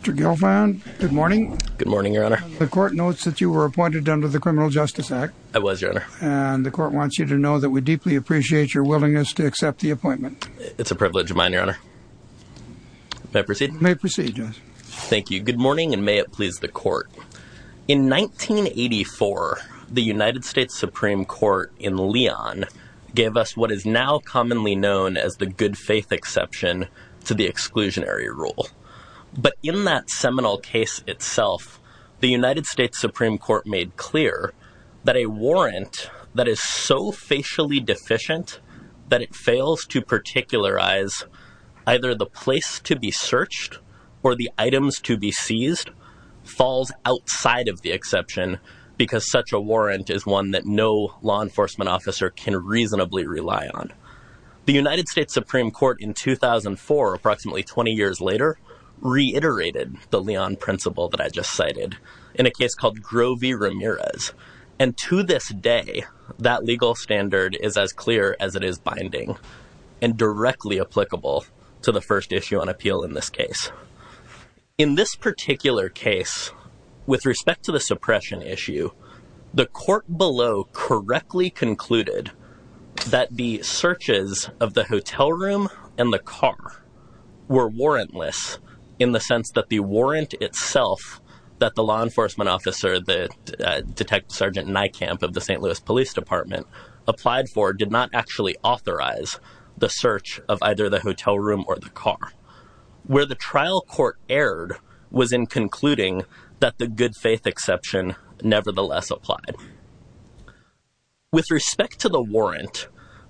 Mr. Gelfand, good morning. Good morning, Your Honor. The Court notes that you were appointed under the Criminal Justice Act. I was, Your Honor. And the Court wants you to know that we deeply appreciate your willingness to accept the appointment. It's a privilege of mine, Your Honor. May I proceed? You may proceed, Judge. Thank you. Good morning, and may it please the Court. In 1984, the United States Supreme Court in Leon gave us what is now commonly known as the good-faith exception to the exclusionary rule. But in that seminal case itself, the United States Supreme Court made clear that a warrant that is so facially deficient that it fails to particularize either the place to be searched or the items to be seized falls outside of the exception because such a warrant is one that no law enforcement officer can reasonably rely on. The United States Supreme Court in 2004, approximately 20 years later, reiterated the Leon principle that I just cited in a case called Grovey-Ramirez. And to this day, that legal standard is as clear as it is binding and directly applicable to the first issue on appeal in this case. In this particular case, with respect to the suppression issue, the court below correctly concluded that the searches of the hotel room and the car were warrantless in the sense that the warrant itself that the law enforcement officer, the Detective Sergeant Nijkamp of the St. Louis Police Department, applied for did not actually authorize the search of either the hotel room or the car. Where the trial court erred was in concluding that the good faith exception nevertheless applied. With respect to the warrant,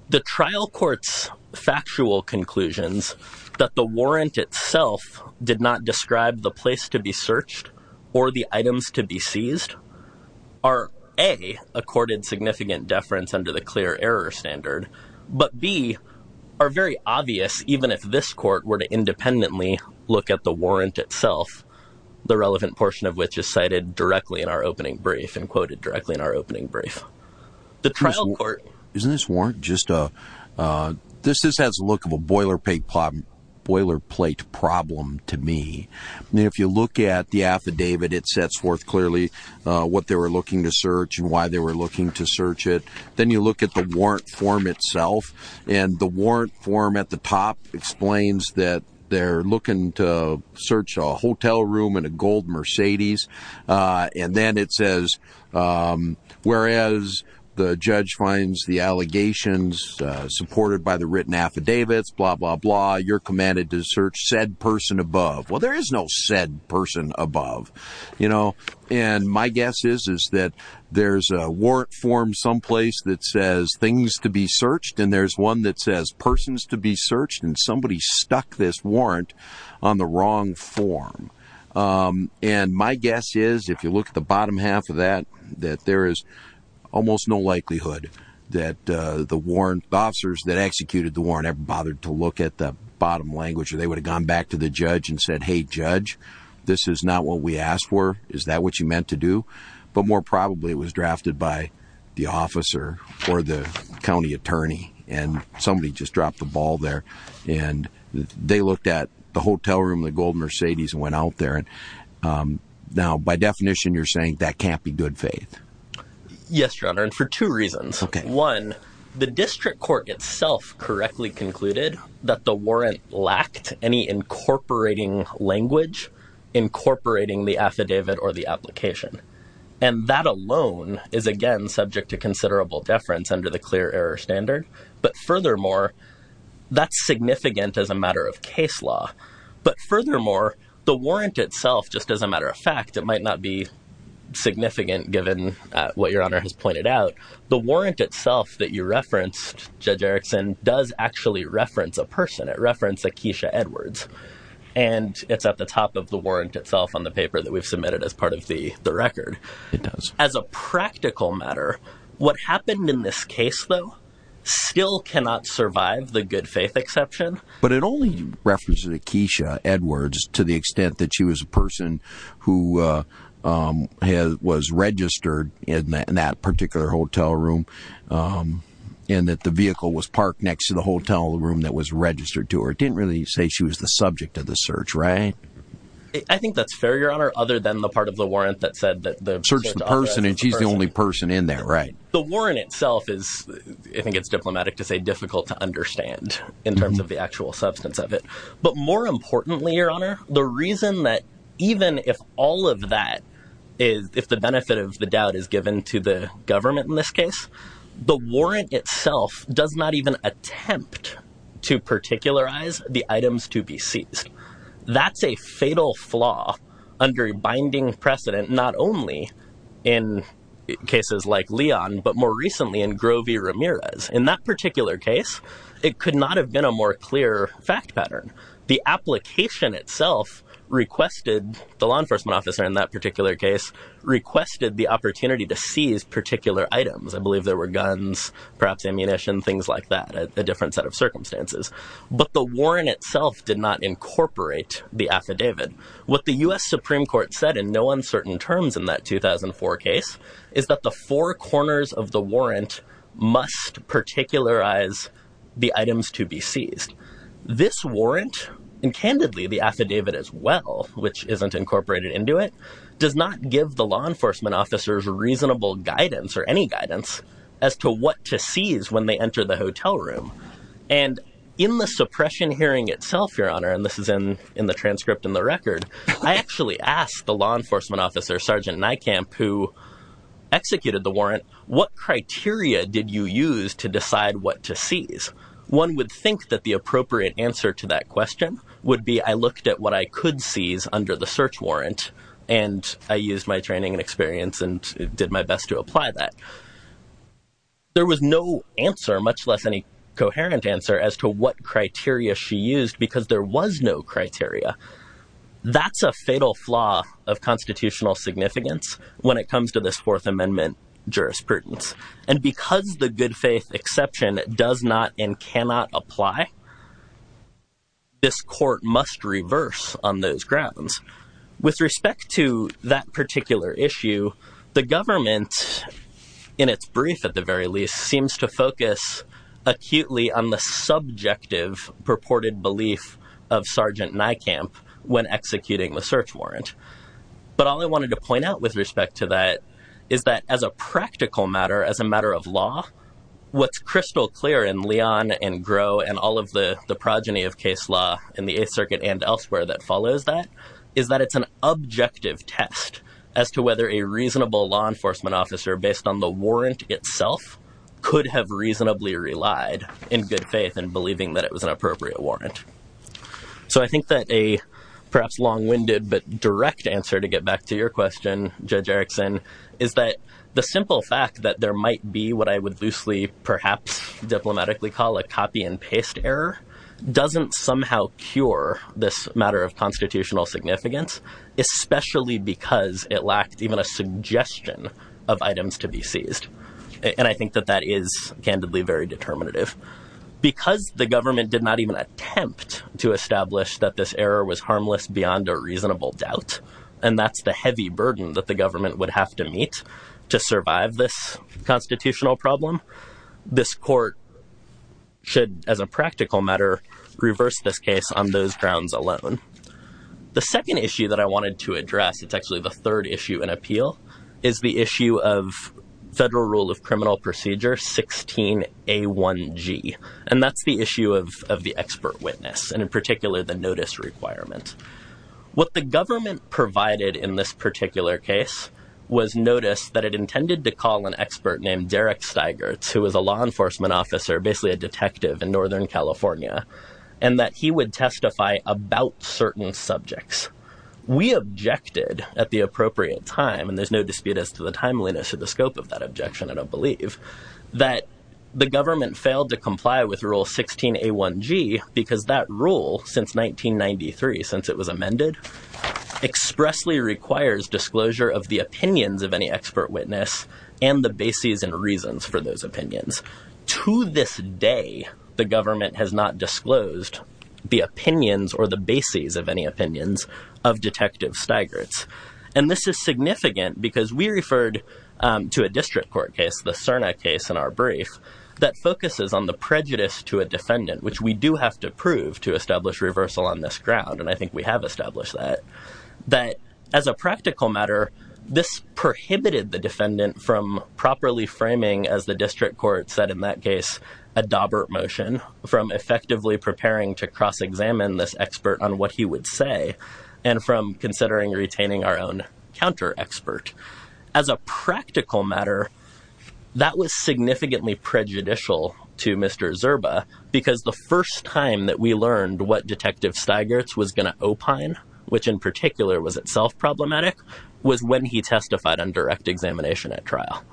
the trial court's factual conclusions that the warrant itself did not describe the place to be searched or the items to be seized are A, accorded significant deference under the clear error standard, but B, are very obvious even if this court were to independently look at the warrant itself, the relevant portion of which is cited directly in our opening brief and quoted directly in our opening brief. The trial court... Isn't this warrant just a... this has the look of a boilerplate problem to me. If you look at the affidavit, it sets forth clearly what they were looking to search and why they were looking to search it. Then you look at the warrant form itself, and the warrant form at the top explains that they're looking to search a hotel room and a gold Mercedes. And then it says, whereas the judge finds the allegations supported by the written affidavits, blah, blah, blah, you're commanded to search said person above. Well, there is no said person above. And my guess is that there's a warrant form someplace that says things to be searched, and there's one that says persons to be searched, and somebody stuck this warrant on the wrong form. And my guess is, if you look at the bottom half of that, that there is almost no likelihood that the warrant officers that executed the warrant ever bothered to look at the bottom language, or they would have gone back to the judge and said, hey, judge, this is not what we asked for. Is that what you meant to do? But more probably, it was drafted by the officer or the county attorney, and somebody just dropped the ball there. And they looked at the hotel room, the gold Mercedes, and went out there. Now, by definition, you're saying that can't be good faith. Yes, Your Honor, and for two reasons. One, the district court itself correctly concluded that the warrant lacked any incorporating language incorporating the affidavit or the application. And that alone is, again, subject to considerable deference under the clear error standard. But furthermore, that's significant as a matter of case law. But furthermore, the warrant itself, just as a matter of fact, it might not be significant given what Your Honor has pointed out. The warrant itself that you referenced, Judge Erickson, does actually reference a person. It referenced Akeisha Edwards. And it's at the top of the warrant itself on the paper that we've submitted as part of the record. It does. As a practical matter, what happened in this case, though, still cannot survive the good faith exception. But it only references Akeisha Edwards to the extent that she was a person who was registered in that particular hotel room. And that the vehicle was parked next to the hotel room that was registered to her. It didn't really say she was the subject of the search, right? I think that's fair, Your Honor, other than the part of the warrant that said that the search… Searched the person, and she's the only person in there, right? The warrant itself is, I think it's diplomatic to say difficult to understand in terms of the actual substance of it. But more importantly, Your Honor, the reason that even if all of that is… If the benefit of the doubt is given to the government in this case, the warrant itself does not even attempt to particularize the items to be seized. That's a fatal flaw under binding precedent, not only in cases like Leon, but more recently in Grovey Ramirez. In that particular case, it could not have been a more clear fact pattern. The application itself requested… The law enforcement officer in that particular case requested the opportunity to seize particular items. I believe there were guns, perhaps ammunition, things like that. A different set of circumstances. But the warrant itself did not incorporate the affidavit. What the U.S. Supreme Court said in no uncertain terms in that 2004 case is that the four corners of the warrant must particularize the items to be seized. This warrant, and candidly, the affidavit as well, which isn't incorporated into it, does not give the law enforcement officers reasonable guidance or any guidance as to what to seize when they enter the hotel room. And in the suppression hearing itself, Your Honor, and this is in the transcript and the record, I actually asked the law enforcement officer, Sergeant Nijkamp, who executed the warrant, what criteria did you use to decide what to seize? One would think that the appropriate answer to that question would be, I looked at what I could seize under the search warrant, and I used my training and experience and did my best to apply that. There was no answer, much less any coherent answer, as to what criteria she used because there was no criteria. That's a fatal flaw of constitutional significance when it comes to this Fourth Amendment jurisprudence. And because the good faith exception does not and cannot apply, this court must reverse on those grounds. With respect to that particular issue, the government, in its brief at the very least, seems to focus acutely on the subjective purported belief of Sergeant Nijkamp when executing the search warrant. But all I wanted to point out with respect to that is that as a practical matter, as a matter of law, what's crystal clear in Leon and Grow and all of the progeny of case law in the Eighth Circuit and elsewhere that follows that, is that it's an objective test as to whether a reasonable law enforcement officer, based on the warrant itself, could have reasonably relied in good faith and believing that it was an appropriate warrant. So I think that a perhaps long-winded but direct answer to get back to your question, Judge Erickson, is that the simple fact that there might be what I would loosely, perhaps diplomatically call a copy and paste error, doesn't somehow cure this matter of constitutional significance, especially because it lacked even a suggestion of items to be seized. And I think that that is, candidly, very determinative. Because the government did not even attempt to establish that this error was harmless beyond a reasonable doubt, and that's the heavy burden that the government would have to meet to survive this constitutional problem, this court should, as a practical matter, reverse this case on those grounds alone. The second issue that I wanted to address, it's actually the third issue in appeal, is the issue of Federal Rule of Criminal Procedure 16A1G. And that's the issue of the expert witness, and in particular the notice requirement. What the government provided in this particular case was notice that it intended to call an expert named Derek Stigerts, who was a law enforcement officer, basically a detective in Northern California, and that he would testify about certain subjects. We objected at the appropriate time, and there's no dispute as to the timeliness or the scope of that objection, I don't believe, that the government failed to comply with Rule 16A1G because that rule, since 1993, since it was amended, expressly requires disclosure of the opinions of any expert witness and the bases and reasons for those opinions. Because to this day, the government has not disclosed the opinions or the bases of any opinions of Detective Stigerts. And this is significant because we referred to a district court case, the Cerna case in our brief, that focuses on the prejudice to a defendant, which we do have to prove to establish reversal on this ground, and I think we have established that. That, as a practical matter, this prohibited the defendant from properly framing, as the district court said in that case, a Daubert motion, from effectively preparing to cross-examine this expert on what he would say, and from considering retaining our own counter-expert. As a practical matter, that was significantly prejudicial to Mr. Zerba because the first time that we learned what Detective Stigerts was going to opine, which in particular was itself problematic, was when he testified on direct examination at trial.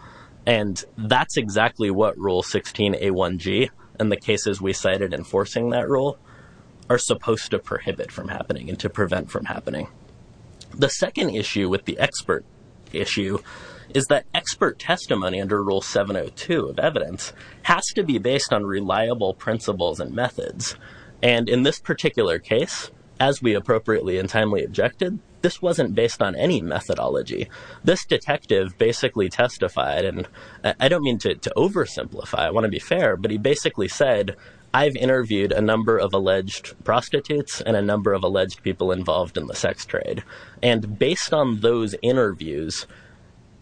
And that's exactly what Rule 16A1G and the cases we cited enforcing that rule are supposed to prohibit from happening and to prevent from happening. The second issue with the expert issue is that expert testimony under Rule 702 of evidence has to be based on reliable principles and methods, and in this particular case, as we appropriately and timely objected, this wasn't based on any methodology. This detective basically testified, and I don't mean to oversimplify, I want to be fair, but he basically said, I've interviewed a number of alleged prostitutes and a number of alleged people involved in the sex trade, and based on those interviews,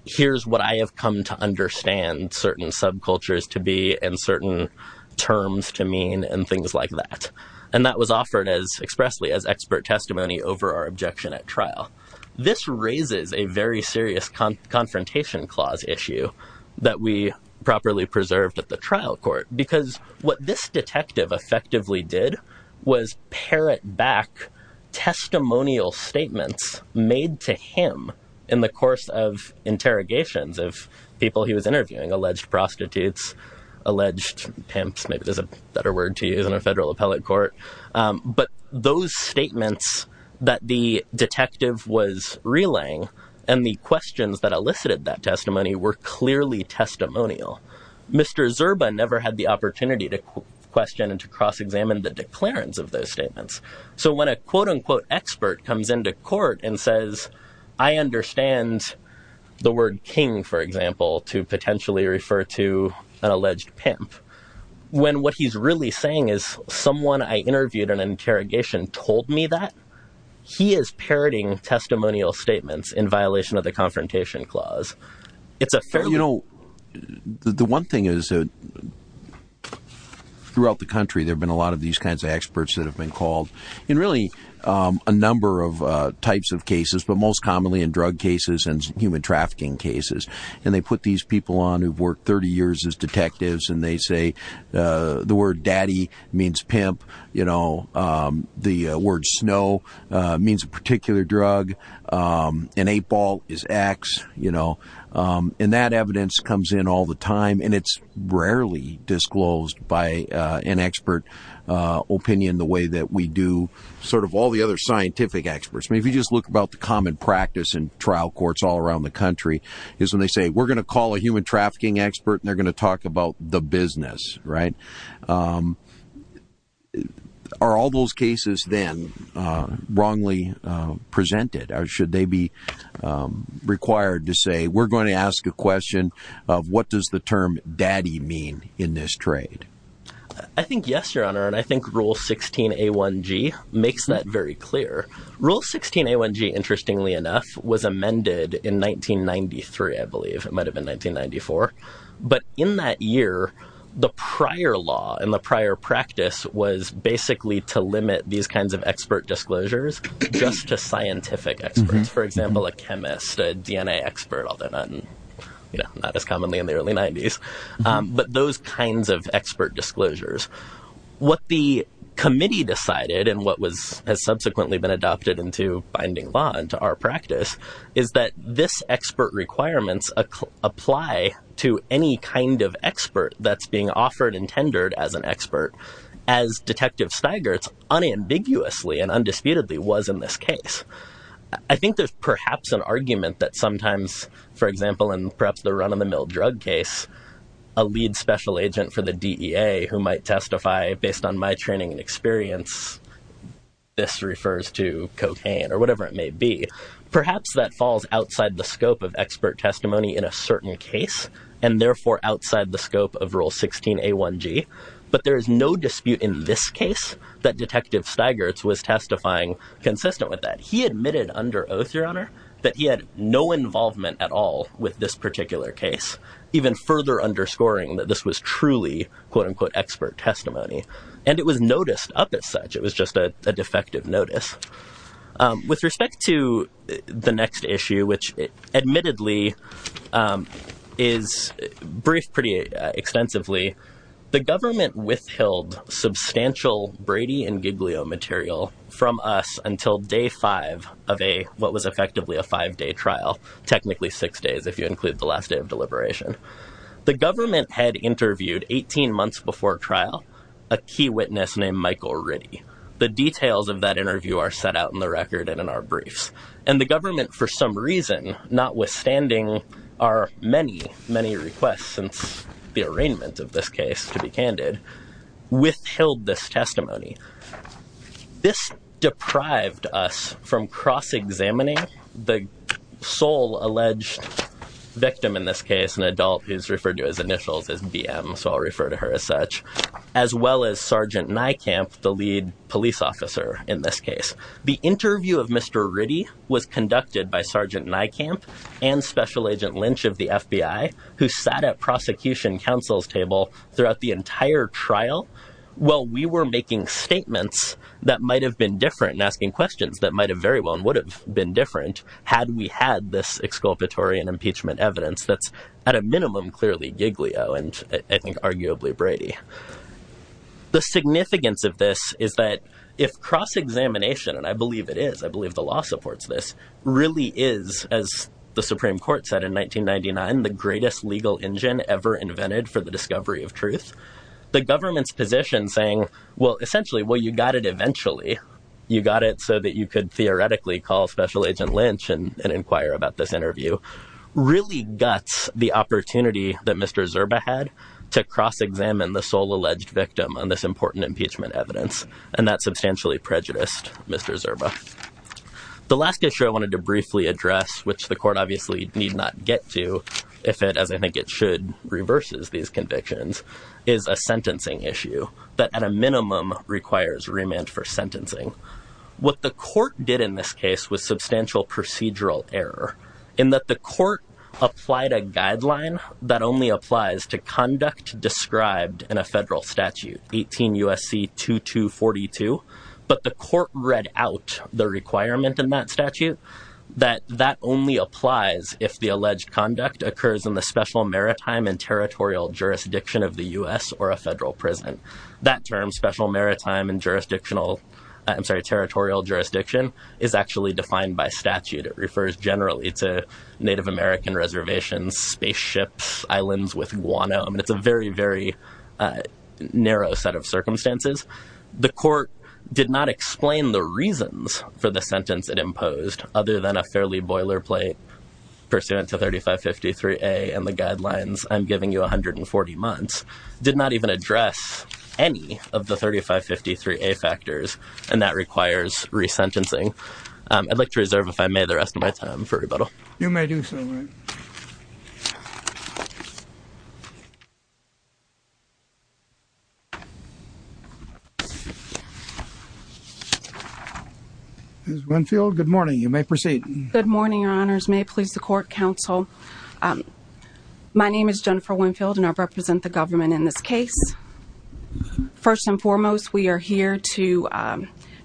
here's what I have come to understand certain subcultures to be and certain terms to mean and things like that. And that was offered as expressly as expert testimony over our objection at trial. This raises a very serious confrontation clause issue that we properly preserved at the trial court, because what this detective effectively did was parrot back testimonial statements made to him in the course of interrogations of people he was interviewing, alleged prostitutes, alleged pimps, maybe there's a better word to use in a federal appellate court. But those statements that the detective was relaying and the questions that elicited that testimony were clearly testimonial. Mr. Zerba never had the opportunity to question and to cross-examine the declarance of those statements. So when a quote-unquote expert comes into court and says, I understand the word king, for example, to potentially refer to an alleged pimp, when what he's really saying is, someone I interviewed in an interrogation told me that, he is parroting testimonial statements in violation of the confrontation clause. You know, the one thing is that throughout the country, there've been a lot of these kinds of experts that have been called in really a number of types of cases, but most commonly in drug cases and human trafficking cases. And they put these people on who've worked 30 years as detectives and they say, the word daddy means pimp, you know, the word snow means a particular drug, an eight ball is X, you know, and that evidence comes in all the time and it's rarely disclosed by an expert opinion the way that we do sort of all the other scientific experts. I mean, if you just look about the common practice in trial courts all around the country is when they say, we're going to call a human trafficking expert and they're going to talk about the business, right? Are all those cases then wrongly presented or should they be required to say, we're going to ask a question of what does the term daddy mean in this trade? I think yes, your honor. And I think rule 16, a one G makes that very clear. Rule 16, a one G, interestingly enough, was amended in 1993. I believe it might have been 1994. But in that year, the prior law and the prior practice was basically to limit these kinds of expert disclosures just to scientific experts. For example, a chemist, a DNA expert, although not, you know, not as commonly in the early nineties. But those kinds of expert disclosures, what the committee decided and what was has subsequently been adopted into binding law into our practice is that this expert requirements apply to any kind of expert that's being offered and tendered as an expert. As detective Steiger, it's unambiguously and undisputedly was in this case. I think there's perhaps an argument that sometimes, for example, and perhaps the run of the mill drug case, a lead special agent for the DEA who might testify based on my training and experience, this refers to cocaine or whatever it may be. Perhaps that falls outside the scope of expert testimony in a certain case and therefore outside the scope of rule 16, a one G. But there is no dispute in this case that detective Stiger, it's was testifying consistent with that he admitted under oath, your honor, that he had no involvement at all with this particular case, even further underscoring that this was truly quote unquote expert testimony. And it was noticed up as such. It was just a defective notice with respect to the next issue, which admittedly is briefed pretty extensively. The government withheld substantial Brady and Giglio material from us until day five of a what was effectively a five day trial, technically six days, if you include the last day of deliberation. The government had interviewed 18 months before trial a key witness named Michael Ritty. The details of that interview are set out in the record and in our briefs. And the government, for some reason, notwithstanding our many, many requests since the arraignment of this case, to be candid, withheld this testimony. This deprived us from cross examining the sole alleged victim in this case, an adult who's referred to as initials as BM. So I'll refer to her as such, as well as Sergeant Nijkamp, the lead police officer. In this case, the interview of Mr. Ritty was conducted by Sergeant Nijkamp and Special Agent Lynch of the FBI, who sat at prosecution counsel's table throughout the entire trial. Well, we were making statements that might have been different and asking questions that might have very well and would have been different had we had this exculpatory and impeachment evidence that's at a minimum, clearly Giglio and I think arguably Brady. The significance of this is that if cross examination, and I believe it is, I believe the law supports this, really is, as the Supreme Court said in 1999, the greatest legal engine ever invented for the discovery of truth. The government's position saying, well, essentially, well, you got it eventually, you got it so that you could theoretically call Special Agent Lynch and inquire about this interview, really guts the opportunity that Mr. Zerba had to cross examine the sole alleged victim on this important impeachment evidence. And that substantially prejudiced Mr. Zerba. The last issue I wanted to briefly address, which the court obviously need not get to, if it, as I think it should, reverses these convictions, is a sentencing issue that at a minimum requires remand for sentencing. What the court did in this case was substantial procedural error in that the court applied a guideline that only applies to conduct described in a federal statute, 18 U.S.C. 2242. But the court read out the requirement in that statute that that only applies if the alleged conduct occurs in the special maritime and territorial jurisdiction of the U.S. or a federal prison. That term special maritime and jurisdictional, I'm sorry, territorial jurisdiction is actually defined by statute. It refers generally to Native American reservations, spaceships, islands with guano. And it's a very, very narrow set of circumstances. The court did not explain the reasons for the sentence it imposed other than a fairly boilerplate pursuant to 3553A and the guidelines I'm giving you 140 months did not even address any of the 3553A factors. And that requires resentencing. I'd like to reserve, if I may, the rest of my time for rebuttal. You may do so. Winfield, good morning. You may proceed. Good morning, Your Honors. May it please the court counsel. My name is Jennifer Winfield and I represent the government in this case. First and foremost, we are here to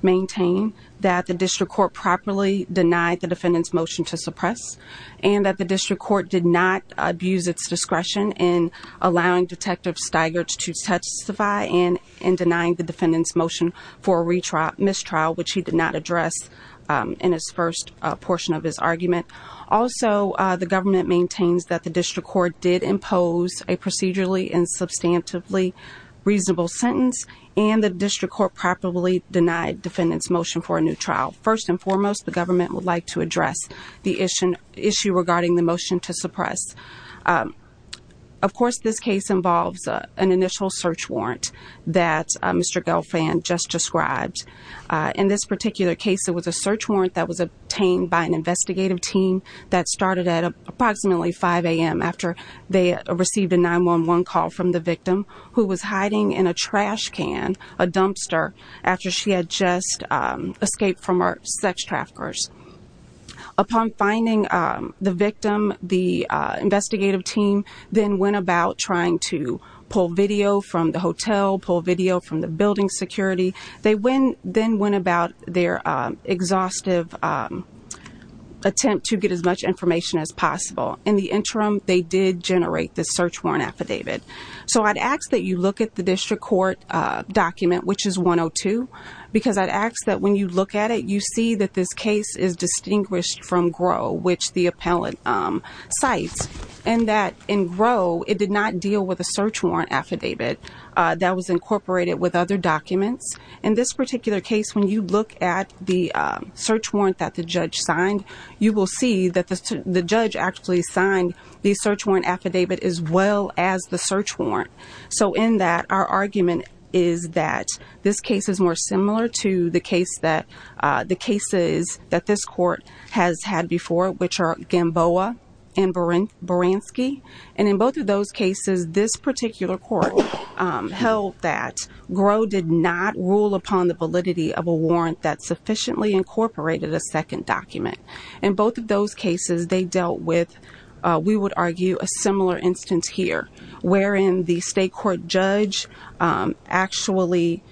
maintain that the district court properly denied the defendant's motion to suppress and that the district court did not abuse its discretion in allowing Detective Stiger to testify and denying the defendant's motion for a mistrial, which he did not address in his first portion of his argument. Also, the government maintains that the district court did impose a procedurally and substantively reasonable sentence and the district court properly denied defendant's motion for a new trial. First and foremost, the government would like to address the issue regarding the motion to suppress. Of course, this case involves an initial search warrant that Mr. Gelfand just described. In this particular case, it was a search warrant that was obtained by an investigative team that started at approximately 5 a.m. after they received a 911 call from the victim, who was hiding in a trash can, a dumpster, after she had just escaped from her sex traffickers. Upon finding the victim, the investigative team then went about trying to pull video from the hotel, pull video from the building security. They then went about their exhaustive attempt to get as much information as possible. In the interim, they did generate the search warrant affidavit. So I'd ask that you look at the district court document, which is 102, because I'd ask that when you look at it, you see that this case is distinguished from GRO, which the appellant cites, and that in GRO, it did not deal with a search warrant affidavit that was incorporated with other documents. In this particular case, when you look at the search warrant that the judge signed, you will see that the judge actually signed the search warrant affidavit as well as the search warrant. So in that, our argument is that this case is more similar to the cases that this court has had before, which are Gamboa and Baranski. And in both of those cases, this particular court held that GRO did not rule upon the validity of a warrant that sufficiently incorporated a second document. In both of those cases, they dealt with, we would argue, a similar instance here, wherein the state court judge actually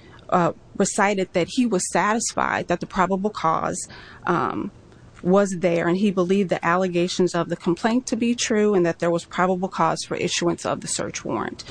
recited that he was satisfied that the probable cause was there, and he believed the allegations of the complaint to be true and that there was probable cause for issuance of the search warrant.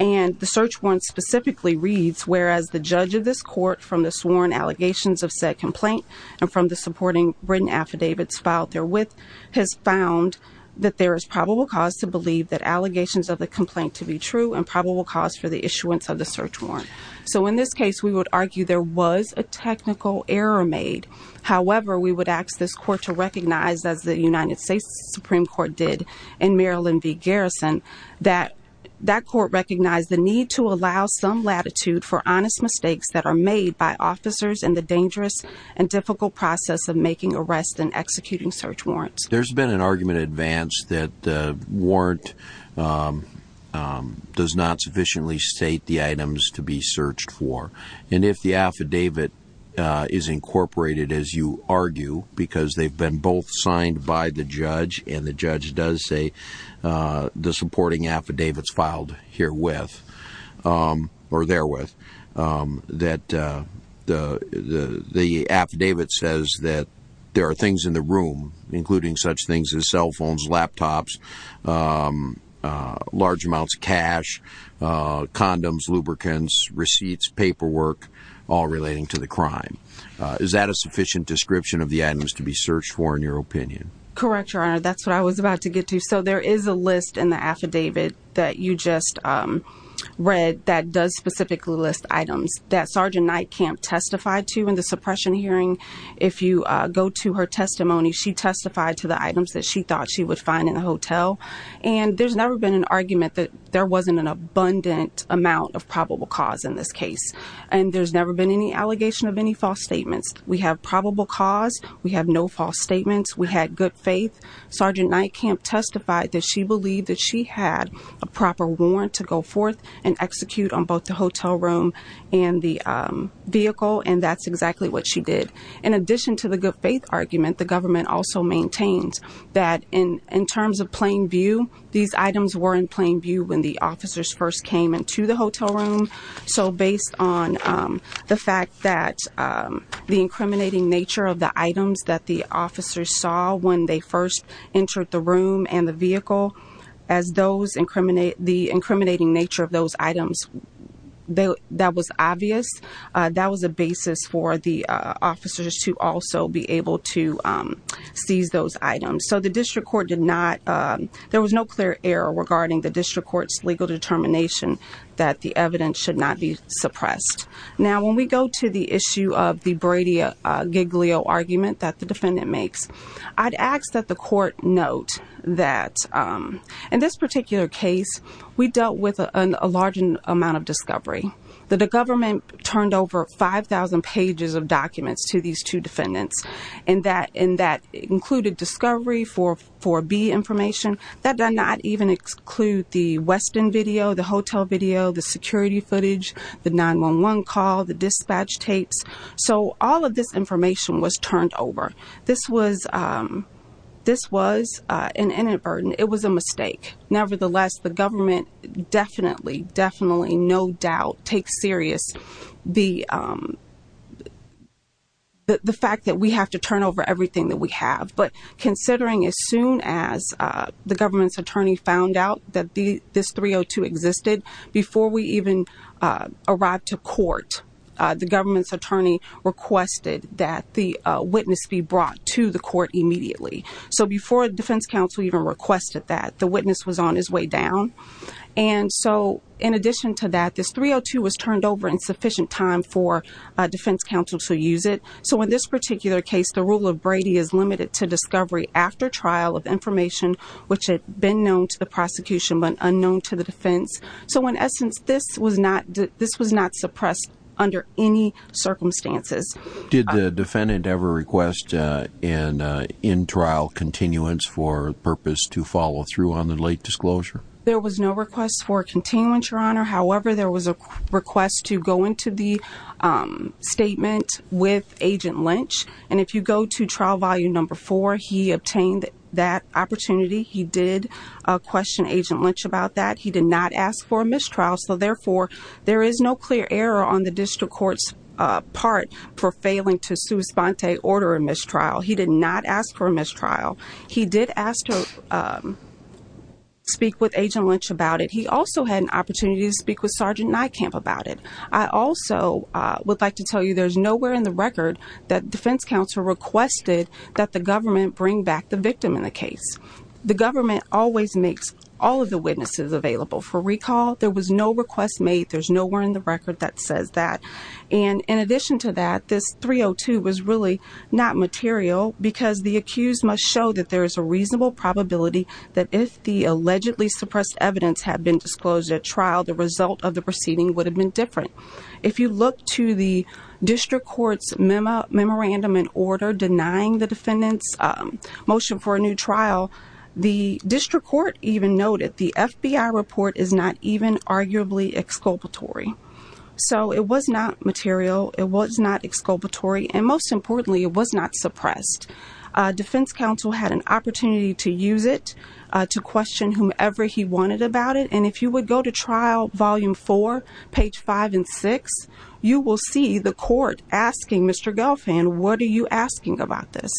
And the search warrant specifically reads, whereas the judge of this court, from the sworn allegations of said complaint and from the supporting written affidavits filed therewith, has found that there is probable cause to believe that allegations of the complaint to be true and probable cause for the issuance of the search warrant. So in this case, we would argue there was a technical error made. However, we would ask this court to recognize, as the United States Supreme Court did in Maryland v. Garrison, that that court recognize the need to allow some latitude for honest mistakes that are made by officers in the dangerous and difficult process of making arrests and executing search warrants. There's been an argument advanced that the warrant does not sufficiently state the items to be searched for. And if the affidavit is incorporated, as you argue, because they've been both signed by the judge and the judge does say the supporting affidavits filed herewith, or therewith, that the affidavit says that there are things in the room, including such things as cell phones, laptops, large amounts of cash, condoms, lubricants, receipts, paperwork, all relating to the crime. Is that a sufficient description of the items to be searched for in your opinion? Correct, Your Honor. That's what I was about to get to. So there is a list in the affidavit that you just read that does specifically list items that Sergeant Knight Camp testified to in the suppression hearing. If you go to her testimony, she testified to the items that she thought she would find in the hotel. And there's never been an argument that there wasn't an abundant amount of probable cause in this case. And there's never been any allegation of any false statements. We have probable cause. We have no false statements. We had good faith. Sergeant Knight Camp testified that she believed that she had a proper warrant to go forth and execute on both the hotel room and the vehicle. And that's exactly what she did. In addition to the good faith argument, the government also maintains that in terms of plain view, these items were in plain view when the officers first came into the hotel room. So based on the fact that the incriminating nature of the items that the officers saw when they first entered the room and the vehicle, as those incriminate the incriminating nature of those items, that was obvious. That was a basis for the officers to also be able to seize those items. So the district court did not, there was no clear error regarding the district court's legal determination that the evidence should not be suppressed. Now, when we go to the issue of the Brady Giglio argument that the defendant makes, I'd ask that the court note that in this particular case, we dealt with a large amount of discovery. The government turned over 5,000 pages of documents to these two defendants and that included discovery for B information that does not even exclude the Westin video, the hotel video, the security footage, the 911 call, the dispatch tapes. So all of this information was turned over. This was an inadvertent, it was a mistake. Nevertheless, the government definitely, definitely no doubt takes serious the fact that we have to turn over everything that we have. But considering as soon as the government's attorney found out that the, this 302 existed before we even arrived to court, the government's attorney requested that the witness be brought to the court immediately. So before the defense counsel even requested that, the witness was on his way down. And so in addition to that, this 302 was turned over in sufficient time for a defense counsel to use it. So in this particular case, the rule of Brady is limited to discovery after trial of information, which had been known to the prosecution, but unknown to the defense. So in essence, this was not, this was not suppressed under any circumstances. Did the defendant ever request an in-trial continuance for purpose to follow through on the late disclosure? There was no request for continuance, Your Honor. However, there was a request to go into the statement with Agent Lynch. And if you go to trial volume number four, he obtained that opportunity. He did question Agent Lynch about that. He did not ask for a mistrial. So therefore, there is no clear error on the district court's part for failing to sui sponte order a mistrial. He did not ask for a mistrial. He did ask to speak with Agent Lynch about it. He also had an opportunity to speak with Sergeant Nykamp about it. I also would like to tell you there's nowhere in the record that defense counsel requested that the government bring back the victim in the case. The government always makes all of the witnesses available for recall. There was no request made. There's nowhere in the record that says that. And in addition to that, this 302 was really not material because the accused must show that there is a reasonable probability that if the allegedly suppressed evidence had been disclosed at trial, the result of the proceeding would have been different. If you look to the district court's memo, memorandum and order denying the defendant's motion for a new trial, the district court even noted the FBI report is not even arguably exculpatory. So it was not material. It was not exculpatory. And most importantly, it was not suppressed. Defense counsel had an opportunity to use it to question whomever he wanted about it. And if you would go to trial volume four, page five and six, you will see the court asking Mr. Gelfand, what are you asking about this?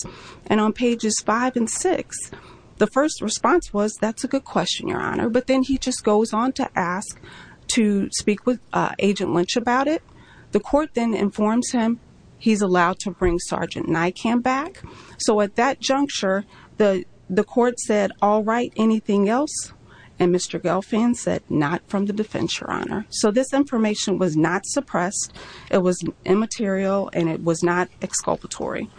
And on pages five and six, the first response was, that's a good question, Your Honor. But then he just goes on to ask to speak with Agent Lynch about it. The court then informs him he's allowed to bring Sergeant Nykamp back. So at that juncture, the court said, all right, anything else? And Mr. Gelfand said, not from the defense, Your Honor. So this information was not suppressed. It was immaterial and it was not exculpatory.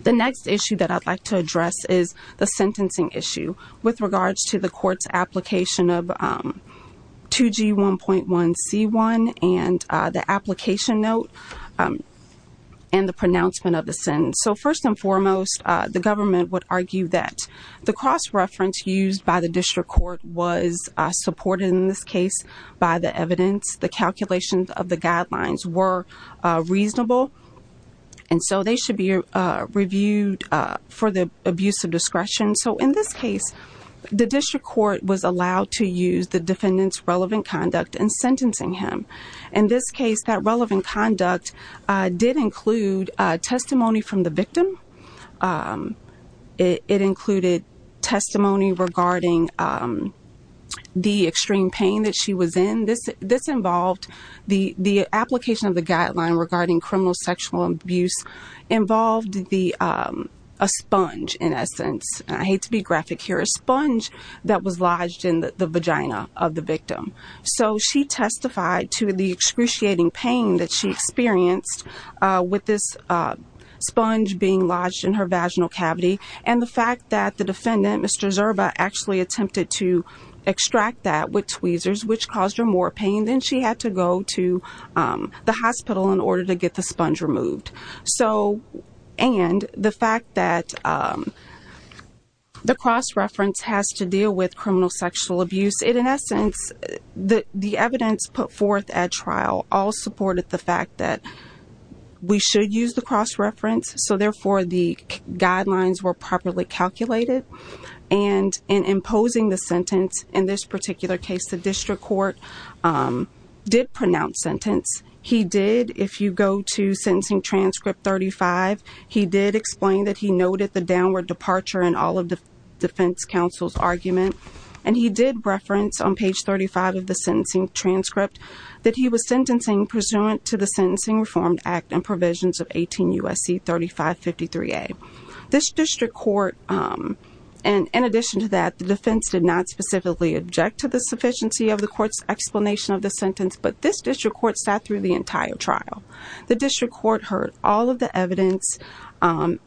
The next issue that I'd like to address is the sentencing issue with regards to the court's application of 2G1.1C1 and the application note and the pronouncement of the sentence. So first and foremost, the government would argue that the cross-reference used by the district court was supported in this case by the evidence. The calculations of the guidelines were reasonable. And so they should be reviewed for the abuse of discretion. So in this case, the district court was allowed to use the defendant's relevant conduct in sentencing him. In this case, that relevant conduct did include testimony from the victim. It included testimony regarding the extreme pain that she was in. This involved the application of the guideline regarding criminal sexual abuse involved a sponge, in essence. And I hate to be graphic here, a sponge that was lodged in the vagina of the victim. So she testified to the excruciating pain that she experienced with this sponge being lodged in her vaginal cavity. And the fact that the defendant, Mr. Zerba, actually attempted to extract that with tweezers, which caused her more pain. Then she had to go to the hospital in order to get the sponge removed. And the fact that the cross-reference has to deal with criminal sexual abuse. In essence, the evidence put forth at trial all supported the fact that we should use the cross-reference. So therefore, the guidelines were properly calculated. And in imposing the sentence in this particular case, the district court did pronounce sentence. He did, if you go to Sentencing Transcript 35, he did explain that he noted the downward departure in all of the defense counsel's argument. And he did reference on page 35 of the Sentencing Transcript that he was sentencing pursuant to the Sentencing Reform Act and provisions of 18 USC 3553A. This district court, in addition to that, the defense did not specifically object to the sufficiency of the court's explanation of the sentence, but this district court sat through the entire trial. The district court heard all of the evidence and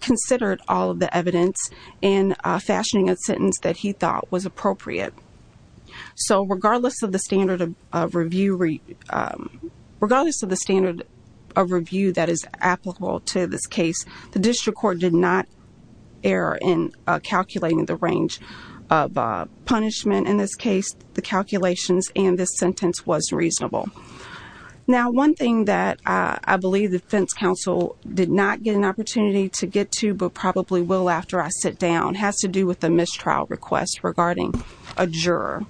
considered all of the evidence in fashioning a sentence that he thought was appropriate. So regardless of the standard of review that is applicable to this case, the district court did not err in calculating the range of punishment in this case. The calculations in this sentence was reasonable. Now, one thing that I believe the defense counsel did not get an opportunity to get to, but probably will after I sit down, has to do with the mistrial request regarding a juror.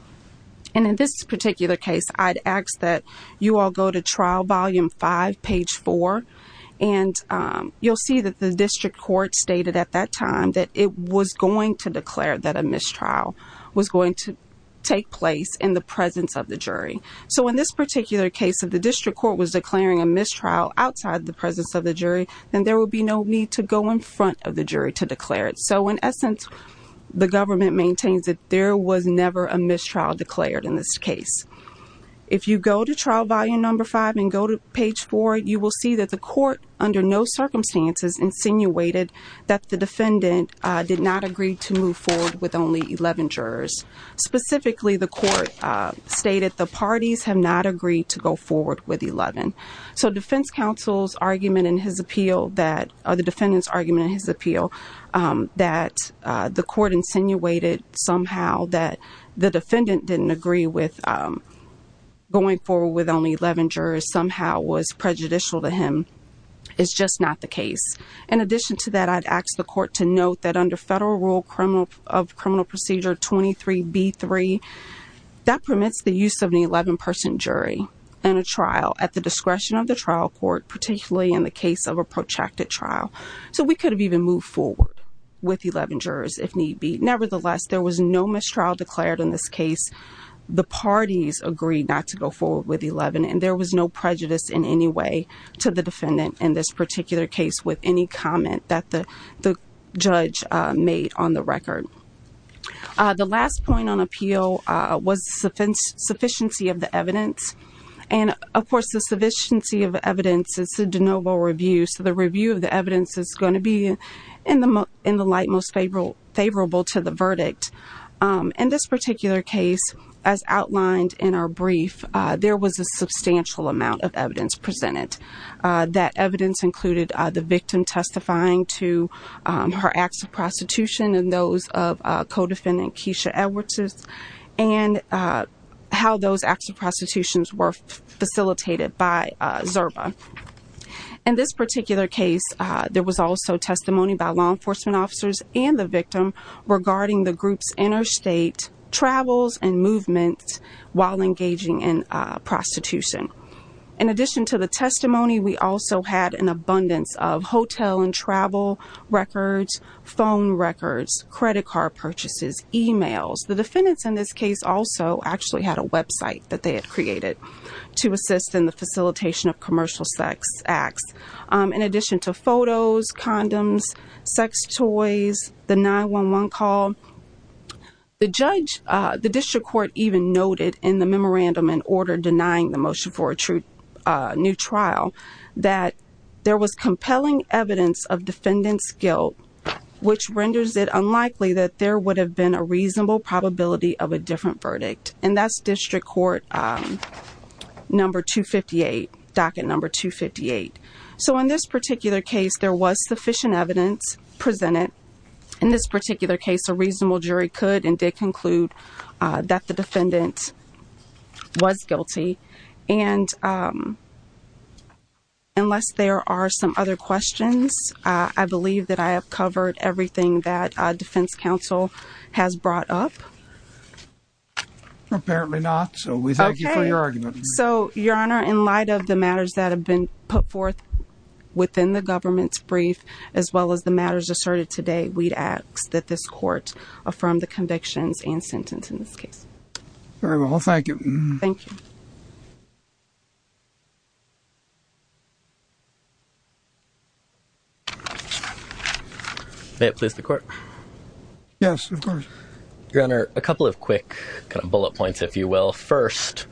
And in this particular case, I'd ask that you all go to Trial Volume 5, page 4, and you'll see that the district court stated at that time that it was going to declare that a mistrial was going to take place in the presence of the jury. So in this particular case, if the district court was declaring a mistrial outside the presence of the jury, then there would be no need to go in front of the jury to declare it. So in essence, the government maintains that there was never a mistrial declared in this case. If you go to Trial Volume 5 and go to page 4, you will see that the court, under no circumstances, insinuated that the defendant did not agree to move forward with only 11 jurors. Specifically, the court stated the parties have not agreed to go forward with 11. So the defense counsel's argument in his appeal, or the defendant's argument in his appeal, that the court insinuated somehow that the defendant didn't agree with going forward with only 11 jurors somehow was prejudicial to him. It's just not the case. In addition to that, I'd ask the court to note that under Federal Rule of Criminal Procedure 23B3, that permits the use of an 11-person jury in a trial at the discretion of the trial court, particularly in the case of a protracted trial. So we could have even moved forward with 11 jurors if need be. Nevertheless, there was no mistrial declared in this case. The parties agreed not to go forward with 11, and there was no prejudice in any way to the defendant in this particular case with any comment that the judge made on the record. The last point on appeal was sufficiency of the evidence. Of course, the sufficiency of evidence is a de novo review, so the review of the evidence is going to be in the light most favorable to the verdict. In this particular case, as outlined in our brief, there was a substantial amount of evidence presented. That evidence included the victim testifying to her acts of prostitution and those of co-defendant Keisha Edwards, and how those acts of prostitution were facilitated by ZERBA. In this particular case, there was also testimony by law enforcement officers and the victim regarding the group's interstate travels and movements while engaging in prostitution. In addition to the testimony, we also had an abundance of hotel and travel records, phone records, credit card purchases, emails. The defendants in this case also actually had a website that they had created to assist in the facilitation of commercial sex acts. In addition to photos, condoms, sex toys, the 911 call, the district court even noted in the memorandum in order denying the motion for a new trial that there was compelling evidence of defendants' guilt, which renders it unlikely that there would have been a reasonable probability of a different verdict. And that's district court number 258, docket number 258. So in this particular case, there was sufficient evidence presented. In this particular case, a reasonable jury could and did conclude that the defendant was guilty. And unless there are some other questions, I believe that I have covered everything that defense counsel has brought up. Apparently not. So we thank you for your argument. So, Your Honor, in light of the matters that have been put forth within the government's brief, as well as the matters asserted today, we'd ask that this court affirm the convictions and sentence in this case. Very well. Thank you. Thank you. May it please the court. Yes, of course. A couple of quick kind of bullet points, if you will. First,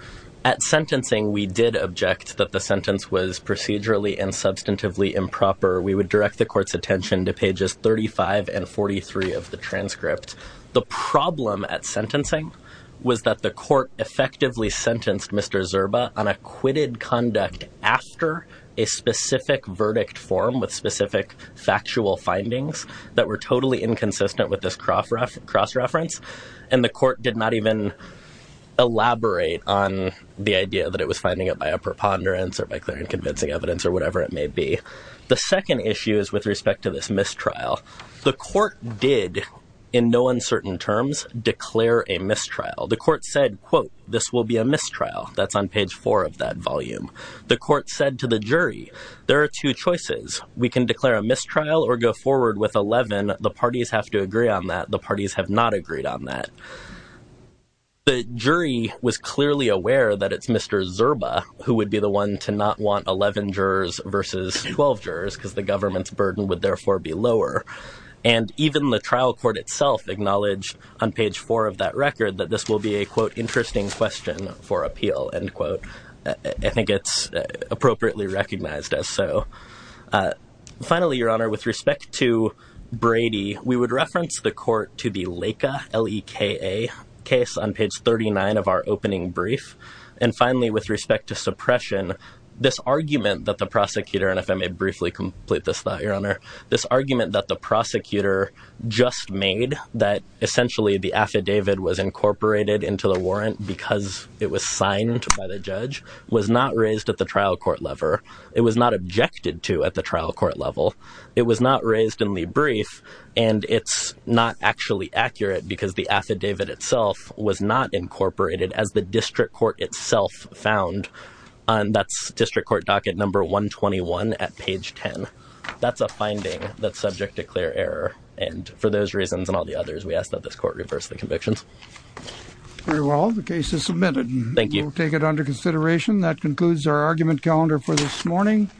at sentencing, we did object that the sentence was procedurally and substantively improper. We would direct the court's attention to pages 35 and 43 of the transcript. The problem at sentencing was that the court effectively sentenced Mr. Zerba on acquitted conduct after a specific verdict form with specific factual findings that were totally inconsistent with this cross-reference. And the court did not even elaborate on the idea that it was finding it by a preponderance or by clear and convincing evidence or whatever it may be. The second issue is with respect to this mistrial. The court did, in no uncertain terms, declare a mistrial. The court said, quote, this will be a mistrial. That's on page four of that volume. The court said to the jury, there are two choices. We can declare a mistrial or go forward with 11. The parties have to agree on that. The parties have not agreed on that. The jury was clearly aware that it's Mr. Zerba who would be the one to not want 11 jurors versus 12 jurors because the government's burden would therefore be lower. And even the trial court itself acknowledged on page four of that record that this will be a, quote, interesting question for appeal, end quote. I think it's appropriately recognized as so. Finally, Your Honor, with respect to Brady, we would reference the court to the Leka, L-E-K-A case on page 39 of our opening brief. And finally, with respect to suppression, this argument that the prosecutor, and if I may briefly complete this thought, Your Honor, this argument that the prosecutor just made that essentially the affidavit was incorporated into the warrant because it was signed by the judge was not raised at the trial court level. However, it was not objected to at the trial court level. It was not raised in the brief, and it's not actually accurate because the affidavit itself was not incorporated as the district court itself found. And that's district court docket number 121 at page 10. That's a finding that's subject to clear error. And for those reasons and all the others, we ask that this court reverse the convictions. Very well. The case is submitted. Thank you. We'll take it under consideration. That concludes our argument calendar for this morning.